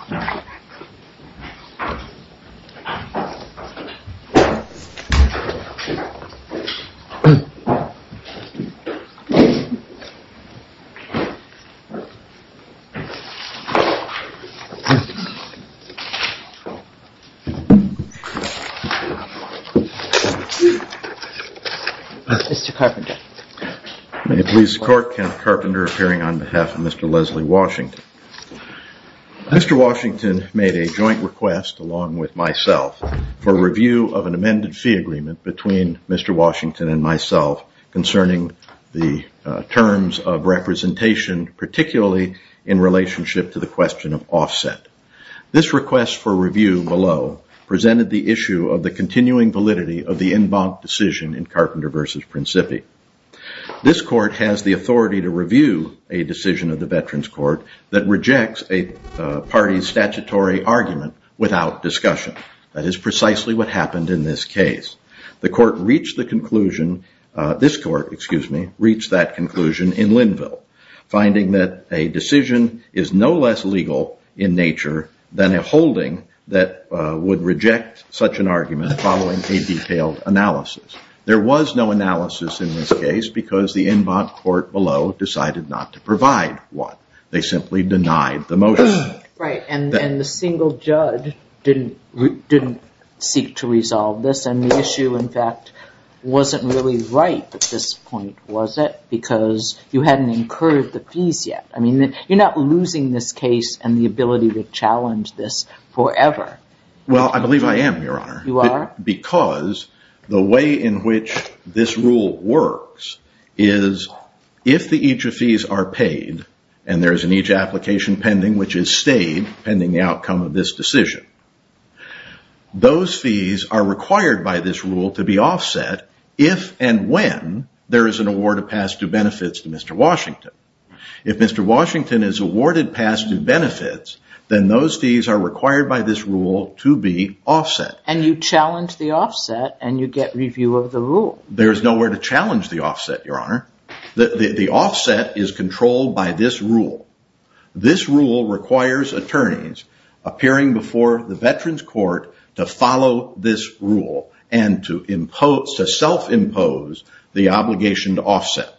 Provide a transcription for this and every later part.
Mr. Carpenter May the police court count Carpenter appearing on behalf of Mr. Leslie Washington. Mr. Washington made a joint request along with myself for review of an amended fee agreement between Mr. Washington and myself concerning the terms of representation, particularly in relationship to the question of offset. This request for review below presented the issue of the continuing validity of the en banc decision in Carpenter versus Principi. This court has the authority to review a decision of the Veterans Court that rejects a party's statutory argument without discussion. That is precisely what happened in this case. The court reached the conclusion, this court, excuse me, reached that conclusion in Linville, finding that a decision is no less legal in nature than a holding that would reject such an argument following a detailed analysis. There was no analysis in this case because the en banc court below decided not to provide one. They simply denied the motion. Right. And the single judge didn't seek to resolve this. And the issue, in fact, wasn't really right at this point, was it? Because you hadn't incurred the fees yet. I mean, you're not losing this case and the ability to challenge this forever. Well I believe I am, Your Honor. You are? I am. Because the way in which this rule works is if the each of fees are paid, and there is an each application pending, which is stayed pending the outcome of this decision, those fees are required by this rule to be offset if and when there is an award of past due benefits to Mr. Washington. If Mr. Washington is awarded past due benefits, then those fees are required by this rule to be offset. And you challenge the offset and you get review of the rule. There's nowhere to challenge the offset, Your Honor. The offset is controlled by this rule. This rule requires attorneys appearing before the Veterans Court to follow this rule and to self-impose the obligation to offset.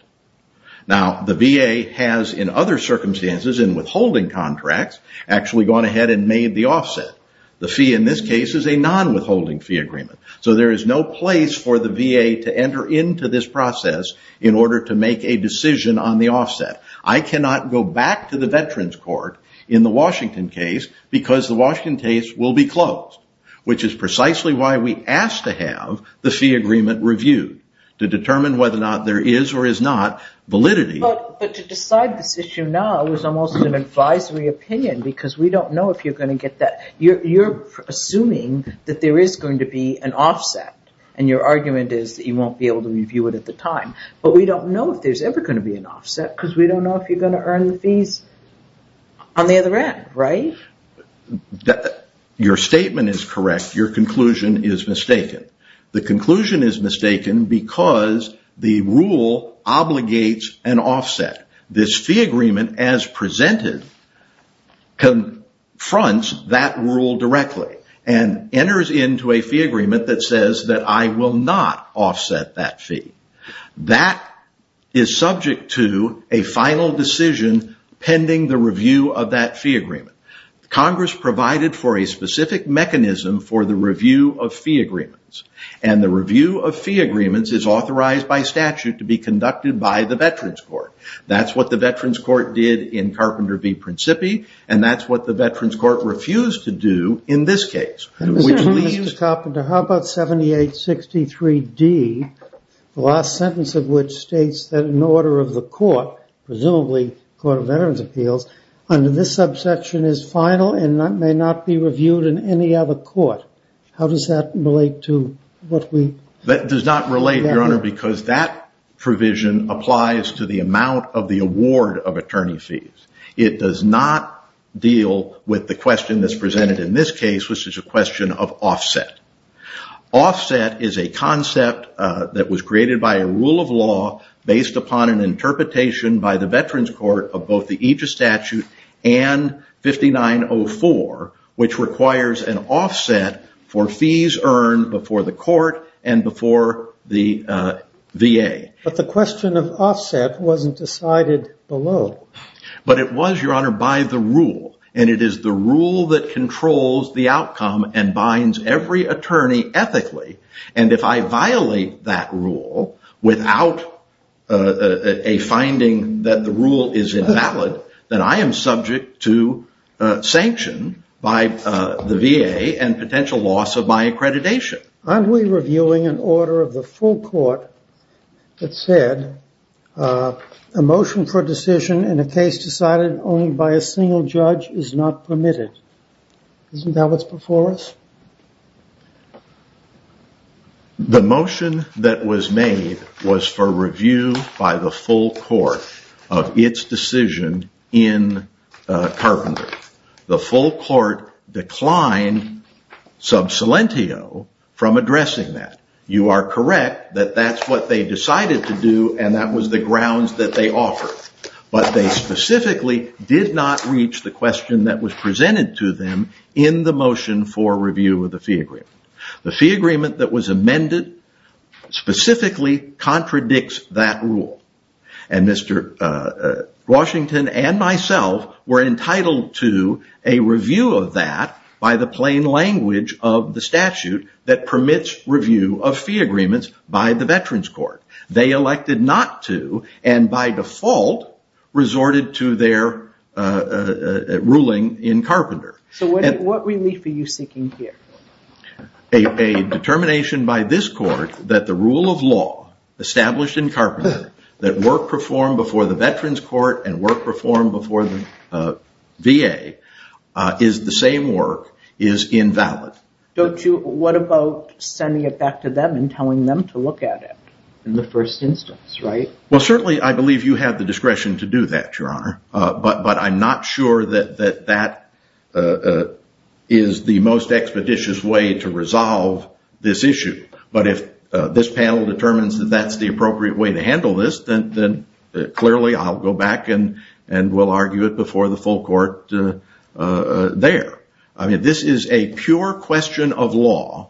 Now, the VA has in other circumstances in withholding contracts actually gone ahead and made the offset. The fee in this case is a non-withholding fee agreement. So there is no place for the VA to enter into this process in order to make a decision on the offset. I cannot go back to the Veterans Court in the Washington case because the Washington case will be closed, which is precisely why we asked to have the fee agreement reviewed to determine whether or not there is or is not validity. But to decide this issue now is almost an advisory opinion because we don't know if you're going to get that. You're assuming that there is going to be an offset and your argument is that you won't be able to review it at the time. But we don't know if there's ever going to be an offset because we don't know if you're going to earn the fees on the other end, right? Your statement is correct. Your conclusion is mistaken. The conclusion is mistaken because the rule obligates an offset. This fee agreement as presented confronts that rule directly and enters into a fee agreement that says that I will not offset that fee. That is subject to a final decision pending the review of that fee agreement. Congress provided for a specific mechanism for the review of fee agreements and the review of fee agreements is authorized by statute to be conducted by the Veterans Court. That's what the Veterans Court did in Carpenter v. Principi and that's what the Veterans Court refused to do in this case. Mr. Carpenter, how about 7863d, the last sentence of which states that in order of the court, presumably the Court of Veterans Appeals, under this subsection is final and may not be reviewed in any other court. How does that relate to what we... That does not relate, Your Honor, because that provision applies to the amount of the award of attorney fees. It does not deal with the question that's presented in this case, which is a question of offset. Offset is a concept that was created by a rule of law based upon an interpretation by the Veterans Court of both the Aegis statute and 5904, which requires an offset for fees earned before the court and before the VA. But the question of offset wasn't decided below. But it was, Your Honor, by the rule and it is the rule that controls the outcome and binds every attorney ethically and if I violate that rule without a finding that the rule is invalid, then I am subject to sanction by the VA and potential loss of my accreditation. Aren't we reviewing an order of the full court that said a motion for decision in a case decided only by a single judge is not permitted? Isn't that what's before us? No. The motion that was made was for review by the full court of its decision in Carpenter. The full court declined sub salentio from addressing that. You are correct that that's what they decided to do and that was the grounds that they offered. But they specifically did not reach the question that was presented to them in the motion for review of the fee agreement. The fee agreement that was amended specifically contradicts that rule and Mr. Washington and myself were entitled to a review of that by the plain language of the statute that permits review of fee agreements by the Veterans Court. They elected not to and by their ruling in Carpenter. So what relief are you seeking here? A determination by this court that the rule of law established in Carpenter that work performed before the Veterans Court and work performed before the VA is the same work is invalid. What about sending it back to them and telling them to look at it in the first instance, right? Well certainly I believe you have the discretion to do that, Your Honor. But I'm not sure that that is the most expeditious way to resolve this issue. But if this panel determines that that's the appropriate way to handle this, then clearly I'll go back and we'll argue it before the full court there. I mean this is a pure question of law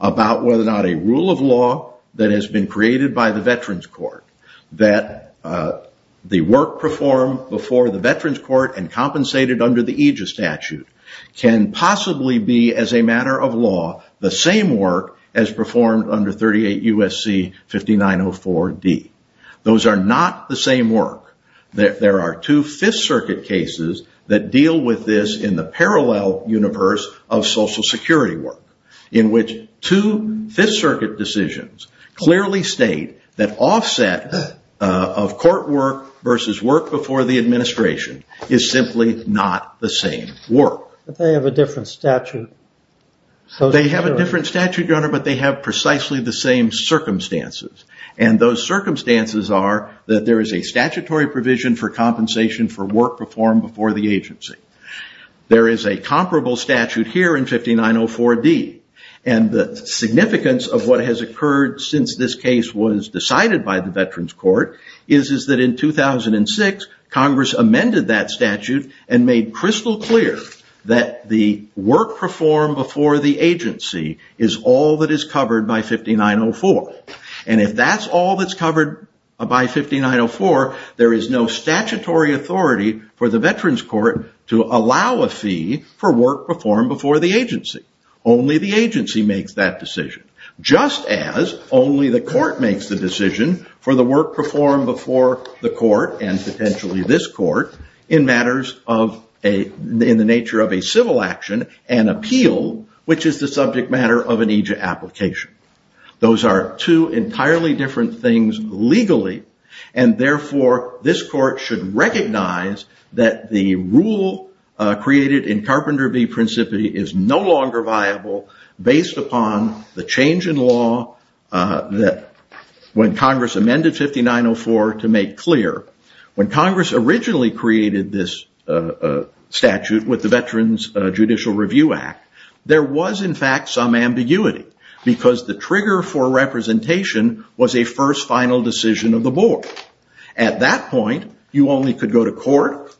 about whether or not a rule of law that has been created by the Veterans Court that the work performed before the Veterans Court and compensated under the Aegis statute can possibly be as a matter of law the same work as performed under 38 U.S.C. 5904D. Those are not the same work. There are two Fifth Circuit cases that deal with this in the parallel universe of Social Security work in which two Fifth Circuit decisions clearly state that offset of court work versus work before the administration is simply not the same work. But they have a different statute. They have a different statute, Your Honor, but they have precisely the same circumstances. And those circumstances are that there is a statutory provision for compensation for the work performed before the agency. The significance of what has occurred since this case was decided by the Veterans Court is that in 2006, Congress amended that statute and made crystal clear that the work performed before the agency is all that is covered by 5904. And if that's all that's covered by 5904, there is no statutory authority for the Veterans Court to allow a fee for work performed before the agency. Only the agency makes that decision, just as only the court makes the decision for the work performed before the court and potentially this court in matters of a, in the nature of a civil action and appeal, which is the subject matter of an AJA application. Those are two entirely different things legally, and therefore this court should recognize that the rule created in Carpenter v. Principi is no longer viable based upon the change in law that when Congress amended 5904 to make clear, when Congress originally created this statute with the Veterans Judicial Review Act, there was in fact some ambiguity because the trigger for representation was a first final decision of the board. At that point, you only could go to court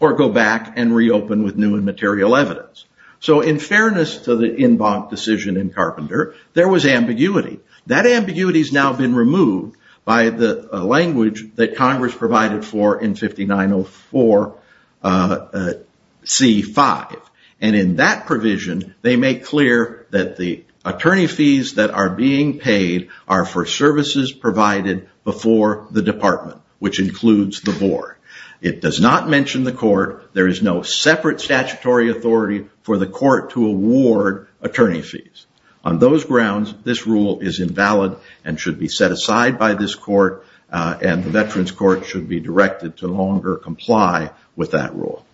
or go back and reopen with new and material evidence. So in fairness to the in bonk decision in Carpenter, there was ambiguity. That ambiguity has now been removed by the language that Congress provided for in 5904C5. And in that provision, they make clear that the attorney fees that are being paid are for services provided before the department, which includes the board. It does not mention the court. There is no separate statutory authority for the court to award attorney fees. On those grounds, this rule is invalid and should be set aside by this court and the Veterans Court should be directed to longer comply with that rule.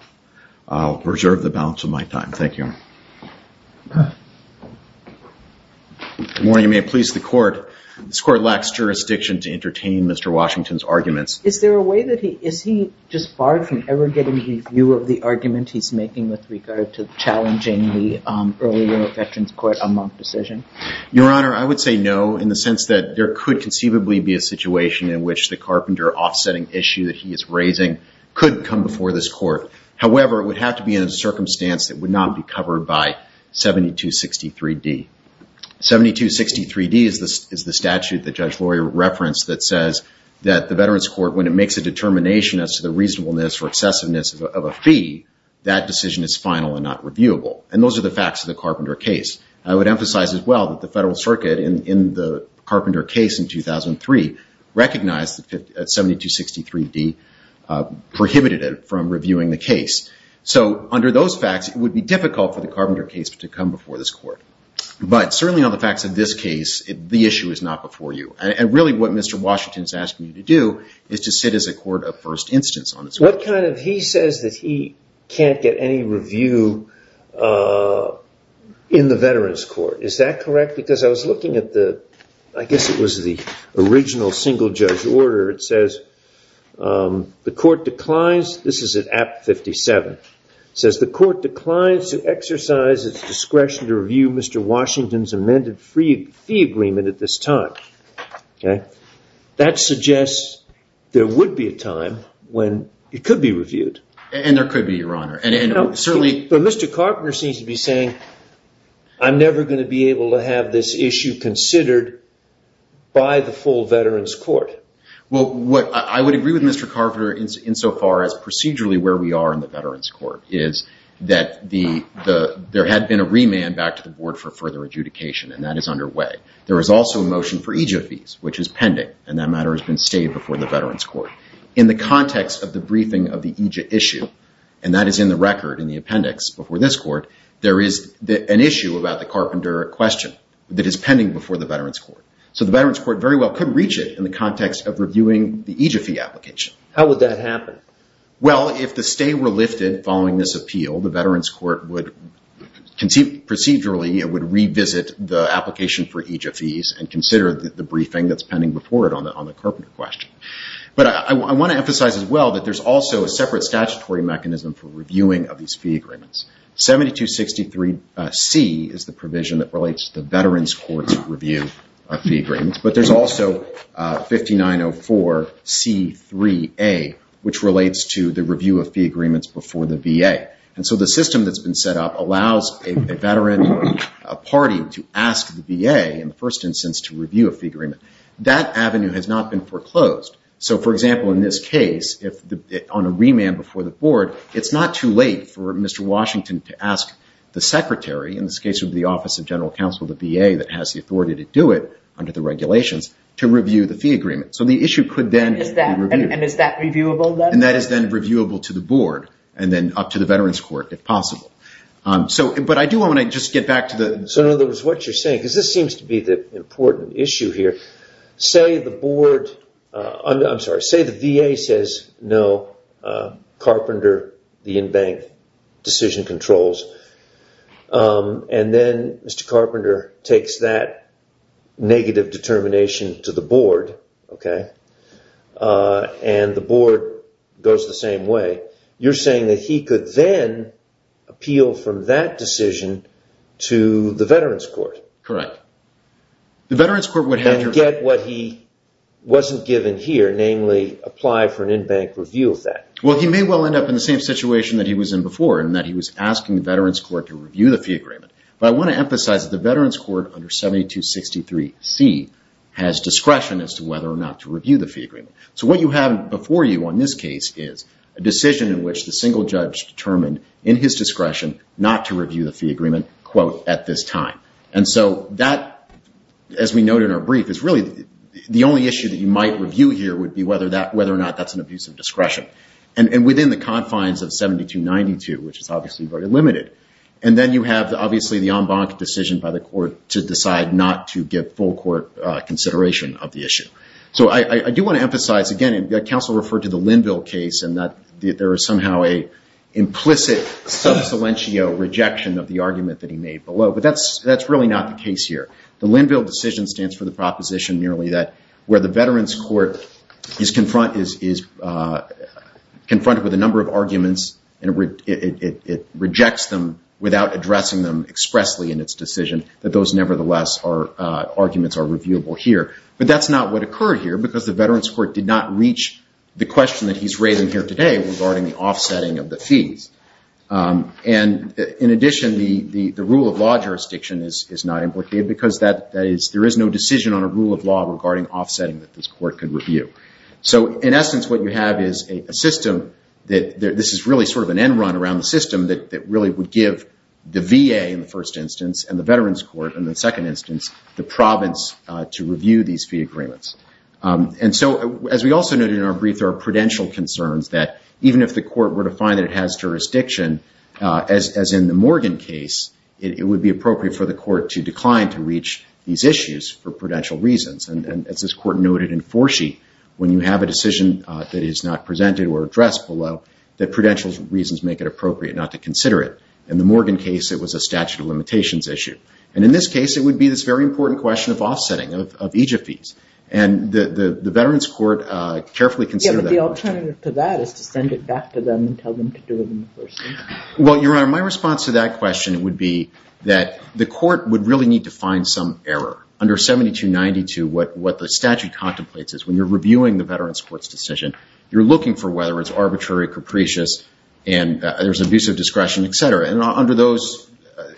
I'll preserve the balance of my time. Thank you. Good morning. You may please the court. This court lacks jurisdiction to entertain Mr. Washington's arguments. Is there a way that he, is he just barred from ever getting the view of the argument he's making with regard to challenging the earlier Veterans Court amonk decision? Your Honor, I would say no in the sense that there could conceivably be a situation in which the Carpenter offsetting issue that he is raising could come before this court. However, it would have to be in a circumstance that would not be covered by 7263D. 7263D is the statute that Judge Laurie referenced that says that the Veterans Court, when it makes a determination as to the reasonableness or excessiveness of a fee, that decision is final and not reviewable. And those are the facts of the Carpenter case. I would emphasize as well that the Federal Circuit in the Carpenter case in 2003 recognized that 7263D prohibited it from reviewing the case. So under those facts, it would be difficult for the Carpenter case to come before this court. But certainly on the facts of this case, the issue is not before you. And really what Mr. Washington is asking you to do is to sit as a court of first instance on this court. What kind of, he says that he can't get any review in the Veterans Court. Is that correct? Because I was looking at the, I guess it was the original single judge order. It says the court declines, this is at Act 57, it says the court declines to exercise its discretion to review Mr. Washington's amended fee agreement at this time. That suggests there would be a time when it could be reviewed. And there could be, Your Honor. No, but Mr. Carpenter seems to be saying, I'm never going to be able to have this issue considered by the full Veterans Court. Well, I would agree with Mr. Carpenter in so far as procedurally where we are in the Veterans Court is that there had been a remand back to the board for further adjudication and that is underway. There is also a motion for EJIA fees, which is pending and that matter has been stated before the Veterans Court. In the context of the briefing of the EJIA issue, and that is in the record in the appendix before this court, there is an issue about the Carpenter question that is pending before the Veterans Court. So the Veterans Court very well could reach it in the context of reviewing the EJIA fee application. How would that happen? Well, if the stay were lifted following this appeal, the Veterans Court would procedurally would revisit the application for EJIA fees and consider the briefing that is pending before it on the Carpenter question. But I want to emphasize as well that there is also a separate statutory mechanism for reviewing of these fee agreements. 7263C is the provision that relates to the Veterans Court's review of fee agreements. But there is also 5904C3A, which relates to the review of fee agreements before the VA. And so the system that has been set up allows a veteran party to ask the VA in the first instance to review a fee agreement. That avenue has not been foreclosed. So for example, in this case, on a remand before the board, it is not too late for Mr. Washington to ask the Secretary, in this case would be the Office of General Counsel of the VA that has the authority to do it under the regulations to review the fee agreement. So the issue could then be reviewed. And is that reviewable then? And that is then reviewable to the board and then up to the Veterans Court if possible. But I do want to just get back to the... So in other words, what you're saying, because this seems to be the important issue here, say the board, I'm sorry, say the VA says no, Carpenter, the in-bank decision controls. And then Mr. Carpenter takes that negative determination to the board, okay, and the board goes the same way. You're saying that he could then appeal from that decision to the Veterans Court? Correct. The Veterans Court would have to... And get what he wasn't given here, namely apply for an in-bank review of that. Well, he may well end up in the same situation that he was in before in that he was asking the Veterans Court to review the fee agreement. But I want to emphasize that the Veterans Court under 7263C has discretion as to whether or not to review the fee agreement. So what you have before you on this case is a decision in which the single judge determined in his discretion not to review the fee agreement, quote, at this time. And so that, as we noted in our brief, is really the only issue that you might review here would be whether or not that's an abuse of discretion. And within the confines of the court, that's limited. And then you have, obviously, the en banc decision by the court to decide not to give full court consideration of the issue. So I do want to emphasize, again, and counsel referred to the Linville case and that there is somehow a implicit sub silentio rejection of the argument that he made below. But that's really not the case here. The Linville decision stands for the proposition merely that where the Veterans Court is confronted with a number of arguments and it rejects the argument, without addressing them expressly in its decision, that those, nevertheless, arguments are reviewable here. But that's not what occurred here because the Veterans Court did not reach the question that he's raising here today regarding the offsetting of the fees. And in addition, the rule of law jurisdiction is not implicated because there is no decision on a rule of law regarding offsetting that this court could review. So in essence, what you have is a system that this is really sort of an end run around the issue. You give the VA, in the first instance, and the Veterans Court, in the second instance, the province to review these fee agreements. And so, as we also noted in our brief, there are prudential concerns that even if the court were to find that it has jurisdiction, as in the Morgan case, it would be appropriate for the court to decline to reach these issues for prudential reasons. And as this court noted in Forsyth, when you have a decision that is not presented or addressed below, that prudential reasons make it appropriate not to consider it. In the Morgan case, it was a statute of limitations issue. And in this case, it would be this very important question of offsetting of EJF fees. And the Veterans Court carefully considered that question. Yeah, but the alternative to that is to send it back to them and tell them to do it in the first instance. Well, Your Honor, my response to that question would be that the court would really need to find some error. Under 7292, what the statute contemplates is when you're reviewing the case, there's an issue of discretion. There's an issue of discretion, et cetera. And under those,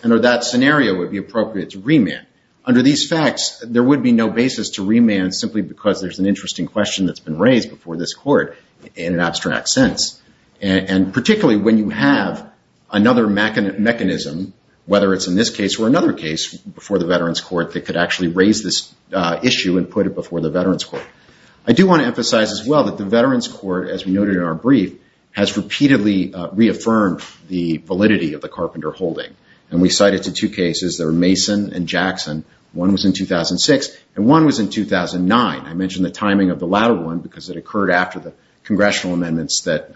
under that scenario, it would be appropriate to remand. Under these facts, there would be no basis to remand simply because there's an interesting question that's been raised before this court in an abstract sense. And particularly, when you have another mechanism, whether it's in this case or another case before the Veterans Court that could actually raise this issue and put it before the Veterans Court. I do want to emphasize as well that the Veterans Court, as we noted in our brief, has repeatedly reaffirmed the validity of the Carpenter holding. And we cite it to two cases. They were Mason and Jackson. One was in 2006, and one was in 2009. I mentioned the timing of the latter one because it occurred after the congressional amendments that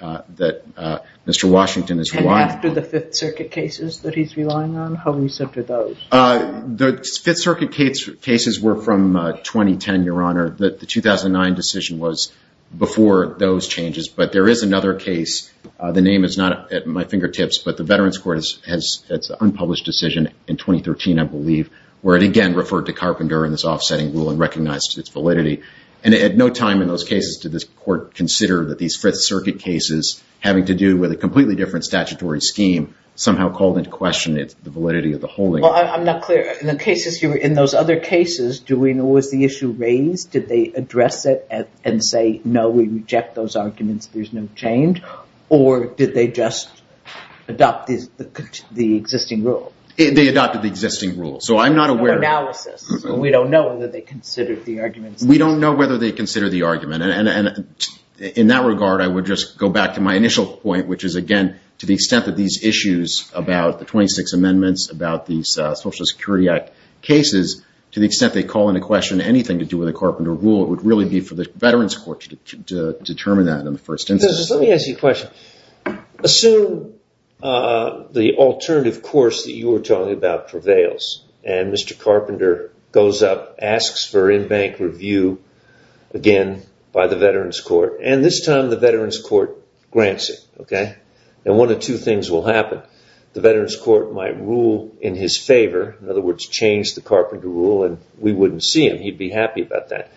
Mr. Washington is relying on. And after the Fifth Circuit cases that he's relying on? How recent are those? The Fifth Circuit cases were from 2010, Your Honor. The 2009 decision was before those changes. But there is another case. The name is not at my fingertips, but the Veterans Court has its unpublished decision in 2013, I believe, where it again referred to Carpenter in this offsetting rule and recognized its validity. And at no time in those cases did this court consider that these Fifth Circuit cases, having to do with a completely different statutory scheme, somehow called into question the validity of the holding. Well, I'm not clear. In those other cases, was the issue raised? Did they address it and say, no, we reject those arguments, there's no change? Or did they just adopt the existing rule? They adopted the existing rule. So I'm not aware. No analysis. So we don't know whether they considered the arguments. We don't know whether they consider the argument. And in that regard, I would just go back to my initial point, which is, again, to the extent that these issues about the 26 amendments, about these Social Security Act cases, to the extent they call into question anything to do with a Carpenter rule, it would really be for the Veterans Court to determine that in the first instance. Let me ask you a question. Assume the alternative course that you were talking about prevails and Mr. Carpenter goes up, asks for in-bank review, again, by the Veterans Court. And this time, the Veterans Court grants it. And one of two things will happen. The Veterans Court might rule in his favor. In other words, change the Carpenter rule and we wouldn't see him. He'd be happy about that.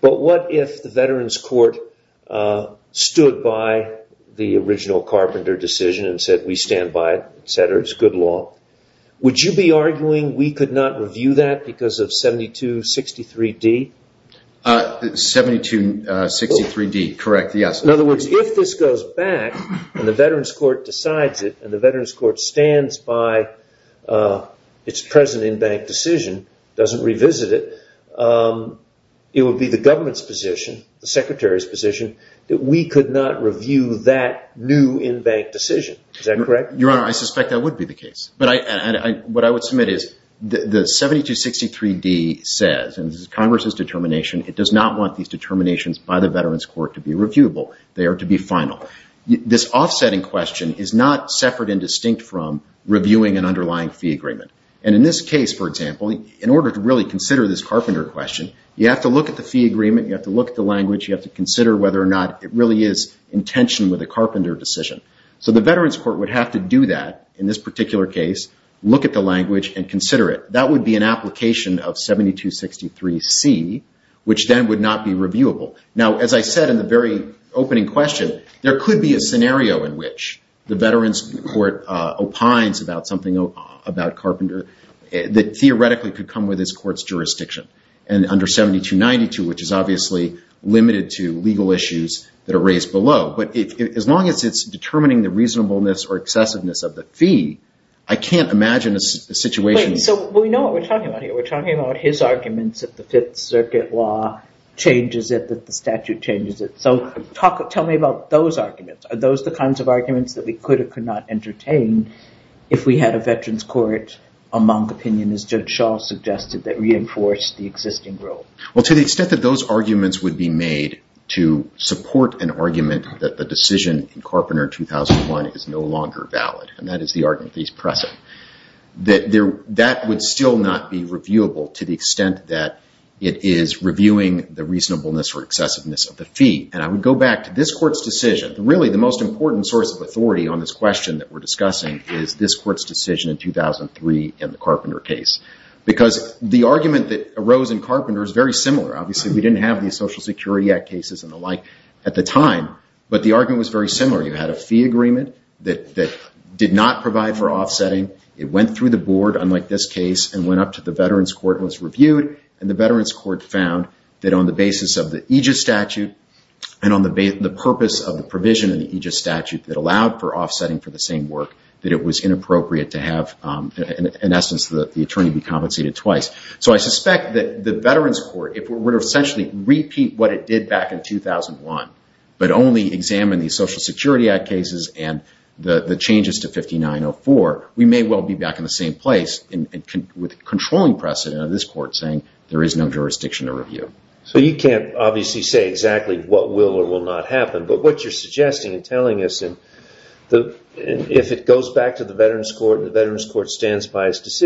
But what if the Veterans Court stood by the original Carpenter decision and said, we stand by it, et cetera, it's good law. Would you be arguing we could not review that because of 7263D? 7263D, correct, yes. In other words, if this goes back and the Veterans Court decides it and the Veterans Court stands by its present in-bank decision, doesn't revisit it, it would be the government's position, the Secretary's position, that we could not review that new in-bank decision. Is that correct? Your Honor, I suspect that would be the case. But what I would submit is the 7263D says, and this is Congress's determination, it does not want these determinations by the Veterans Court to be reviewable. They are to be final. This offsetting question is not separate and distinct from reviewing an underlying fee agreement. And in this case, for example, in order to really consider this Carpenter question, you have to look at the fee agreement, you have to look at the language, you have to consider whether or not it really is intentioned with a Carpenter decision. So the Veterans Court would have to do that in this particular case, look at the language and consider it. That would be an application of 7263C, which then would not be reviewable. Now, as I said in the very opening question, there could be a scenario in which the Veterans Court opines about something about Carpenter that theoretically could come with this court's jurisdiction. And under 7292, which is obviously limited to legal issues that are raised below. But as long as it's determining the reasonableness or excessiveness of the fee, I can't imagine a situation... So we know what we're talking about here. We're talking about his arguments that the statute changes it. So tell me about those arguments. Are those the kinds of arguments that we could or could not entertain if we had a Veterans Court, a Monk opinion, as Judge Shaw suggested, that reinforced the existing rule? Well, to the extent that those arguments would be made to support an argument that the decision in Carpenter 2001 is no longer valid, and that is the argument that is present, that would still not be reviewable to the extent that it is reviewing the reasonableness or excessiveness of the fee. And I would go back to this Court's decision. Really, the most important source of authority on this question that we're discussing is this Court's decision in 2003 in the Carpenter case. Because the argument that arose in Carpenter is very similar. Obviously, we didn't have the Social Security Act cases and the like at the time, but the argument was very similar. You had a fee agreement that did not provide for offsetting. It went through the board, unlike this case, and went up to the Veterans Court and was reviewed. And the Veterans Court found that on the basis of the Aegis Statute and on the purpose of the provision of the Aegis Statute that allowed for offsetting for the same work, that it was inappropriate to have, in essence, the attorney be compensated twice. So I suspect that the Veterans Court, if it were to essentially repeat what it did back in 2001, but only examine the Social Security Act cases and the changes to 5904, we may well be back in the same place with controlling precedent of this Court saying there is no jurisdiction to review. So you can't obviously say exactly what will or will not happen, but what you're suggesting and telling us, if it goes back to the Veterans Court and the Veterans Court stands by its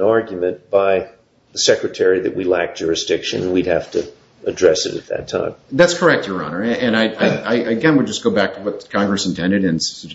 argument, by the Secretary that we lack jurisdiction, we'd have to address it at that time. That's correct, Your Honor. And I, again, would just go back to what Congress intended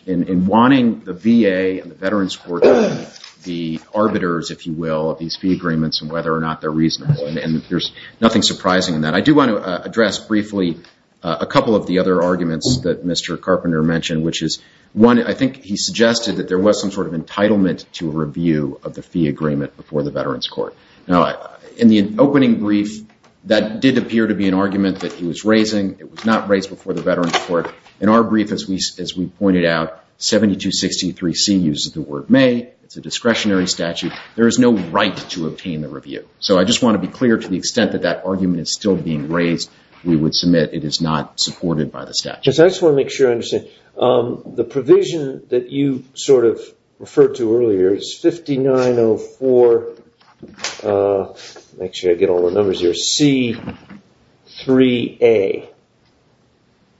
in wanting the VA and the Veterans Court to be the arbiters, if you will, of these fee agreements and whether or not they're reasonable. And there's nothing surprising in that. I do want to address briefly a couple of the other arguments that Mr. Carpenter mentioned, which is, one, I think he suggested that there was some sort of entitlement to a review of the fee agreement before the Veterans Court. Now, in the opening brief, that did appear to be an argument that he was raising. It was not raised before the Veterans Court. In our brief, as we pointed out, 7263C uses the word may. It's a discretionary statute. There is no right to obtain the review. So I just want to be clear to the extent that that argument is still being raised, we would submit it is not supported by the statute. Yes, I just want to make sure I understand. The provision that you sort of referred to earlier is 5904C3A.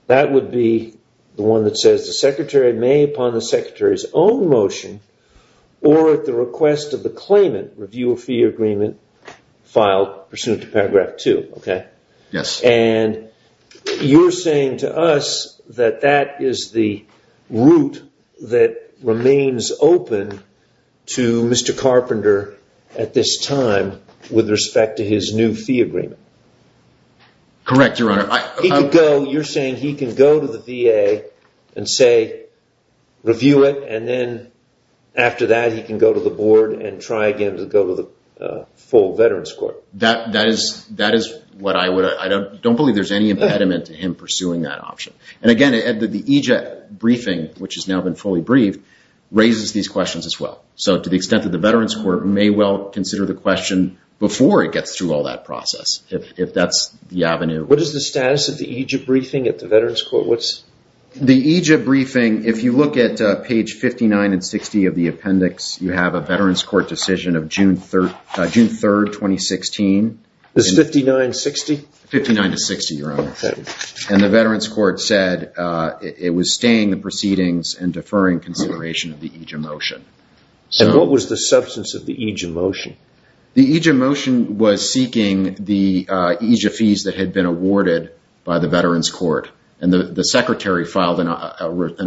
That would be the one that says the secretary may upon the secretary's own motion or at the request of the claimant review a fee agreement filed pursuant to paragraph 2. Yes. And you're saying to us that that is the route that remains open to Mr. Carpenter at this time with respect to his new fee agreement. Correct, Your Honor. You're saying he can go to the VA and say, review it, and then after that, he can go to the board and try again to go to the full Veterans Court. That is what I would... I don't believe there's any impediment to him pursuing that option. And again, the EJ briefing, which has now been fully briefed, raises these questions as well. So to the extent that the Veterans Court may well consider the question before it gets through all that process, if that's the avenue. What is the status of the EJ briefing at the Veterans Court? The EJ briefing, if you look at page 59 and 60 of the appendix, you have a Veterans Court decision of June 3rd, 2016. This 59-60? 59-60, Your Honor. Okay. And the Veterans Court said it was staying the proceedings and deferring consideration of the EJ motion. And what was the substance of the EJ motion? The EJ motion was seeking the EJ fees that had been awarded by the Veterans Court. And the secretary filed an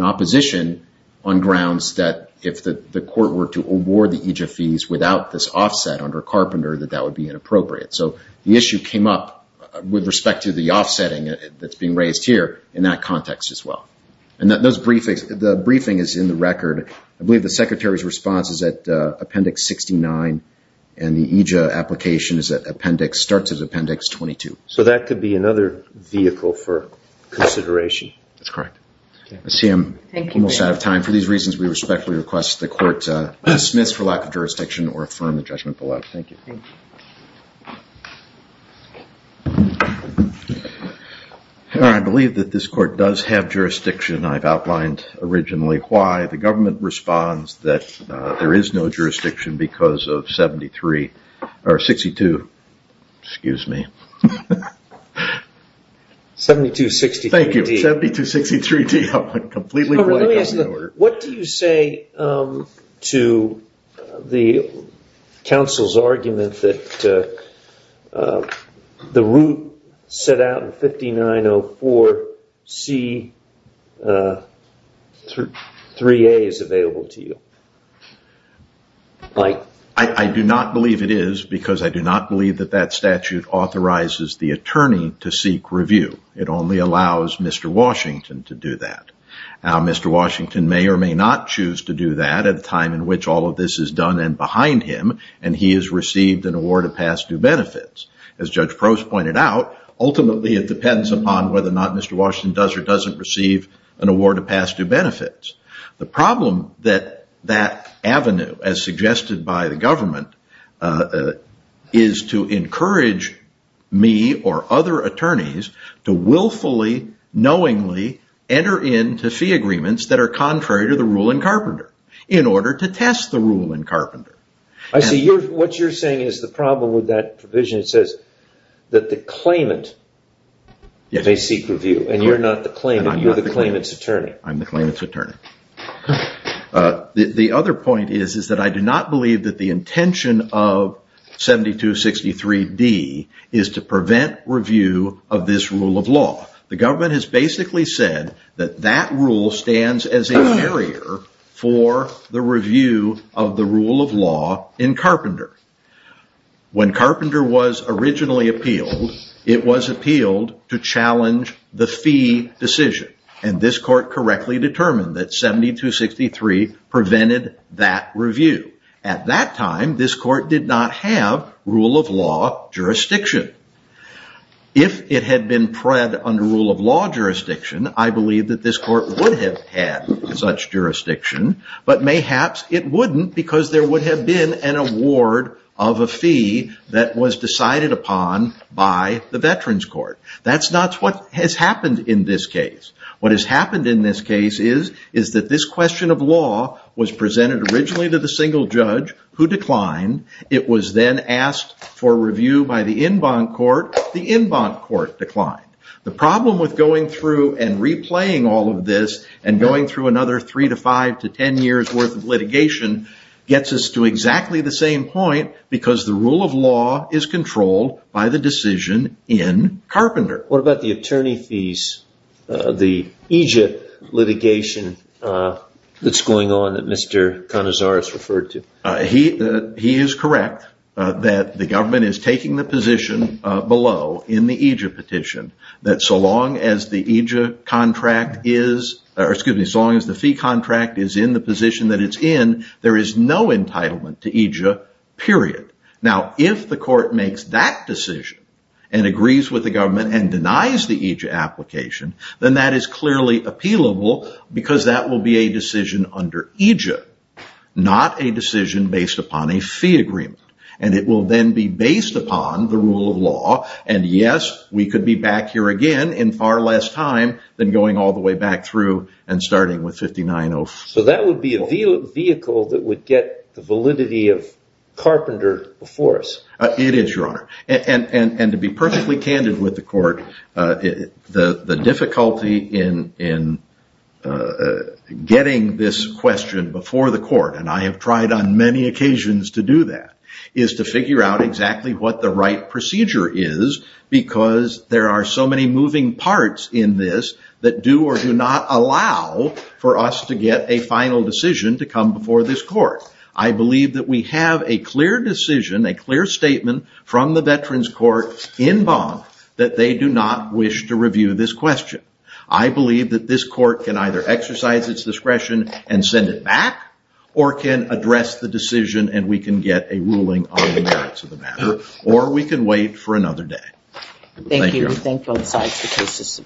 opposition on grounds that if the court were to award the EJ fees without this offset under Carpenter, that that would be inappropriate. So the issue came up with respect to the offsetting that's being raised here in that context as well. And those briefings, the briefing is in the record. I believe the secretary's response is at Appendix 69 and the EJ application is at Appendix... starts at Appendix 22. So that could be another vehicle for consideration? That's correct. Okay. I see I'm almost out of time. Thank you. And for these reasons, we respectfully request the court dismiss for lack of jurisdiction or affirm the judgment below. Thank you. I believe that this court does have jurisdiction. I've outlined originally why. The government responds that there is no jurisdiction because of 73... or 62, excuse me. 72-63D. Thank you. 72-63D. I'm completely blank on the order. What do you say to the counsel's argument that the route set out in 5904C... 3A is available to you? I do not believe it is because I do not believe that that statute authorizes the attorney to seek review. It only allows Mr. Washington to do that. Now, Mr. Washington may or may not choose to do that at a time in which all of this is done and behind him and he has received an award of past due benefits. As Judge Prost pointed out, ultimately it depends upon whether or not Mr. Washington does or doesn't receive an award of past due benefits. The problem that that avenue, as suggested by the government, is to encourage me or other attorneys to willfully, knowingly enter into fee agreements that are contrary to the rule in Carpenter in order to test the rule in Carpenter. I see. What you're saying is the problem with that provision says that the claimant may seek review and you're not the claimant. You're the claimant's attorney. I'm the claimant's attorney. The other point is that I do not believe that the intention of 7263D is to prevent review of this rule of law. The government has basically said that that rule stands as a barrier for the review of the rule of law in Carpenter. When Carpenter was originally appealed, it was appealed to challenge the fee decision and this court correctly determined that 7263 prevented that review. At that time, this court did not have rule of law jurisdiction. If it had been prepped under rule of law jurisdiction, I believe that this court would have had such jurisdiction, but mayhaps it wouldn't because there would have been an award of a fee that was decided upon by the Veterans Court. That's what has happened in this case. What has happened in this case is that this question of law was presented originally to the single judge who declined. It was then asked for review by the en banc court. The en banc court declined. The problem with going through and replaying all of this and going through another 3 to 5 to 10 years worth of litigation gets us to exactly the same point because the rule of law is controlled by the decision in Carpenter. What about the attorney fees, the EJIA litigation that's going on that Mr. Canizares referred to? He is correct that the government is taking the position below in the EJIA petition that so long as the EJIA contract is, excuse me, so long as the fee contract is in the position that it's in, there is no entitlement to EJIA, period. Now, if the court makes that decision and agrees with the government and denies the EJIA application, then that is clearly appealable because that will be a decision under EJIA, not a decision based upon a fee agreement. It will then be based upon the rule of law and yes, we could be back here again in far less time than going all the way back through and starting with 5904. That would be a vehicle that would get the validity of Carpenter before us. It is, Your Honor. And to be perfectly candid with the court, the difficulty in getting this question before the court, and I have tried on many occasions to do that, is to figure out exactly what the right procedure is because there are so many moving parts in this that do or do not allow for us to get a final decision to come before this court. I believe that we have a clear decision, a clear statement from the Veterans Court in bond that they do not wish to review this question. I believe that this court can either exercise its discretion and send it back or can address the decision and we can get a ruling on the merits of the matter or we can wait for another day. Thank you. We thank both sides for cases submitted.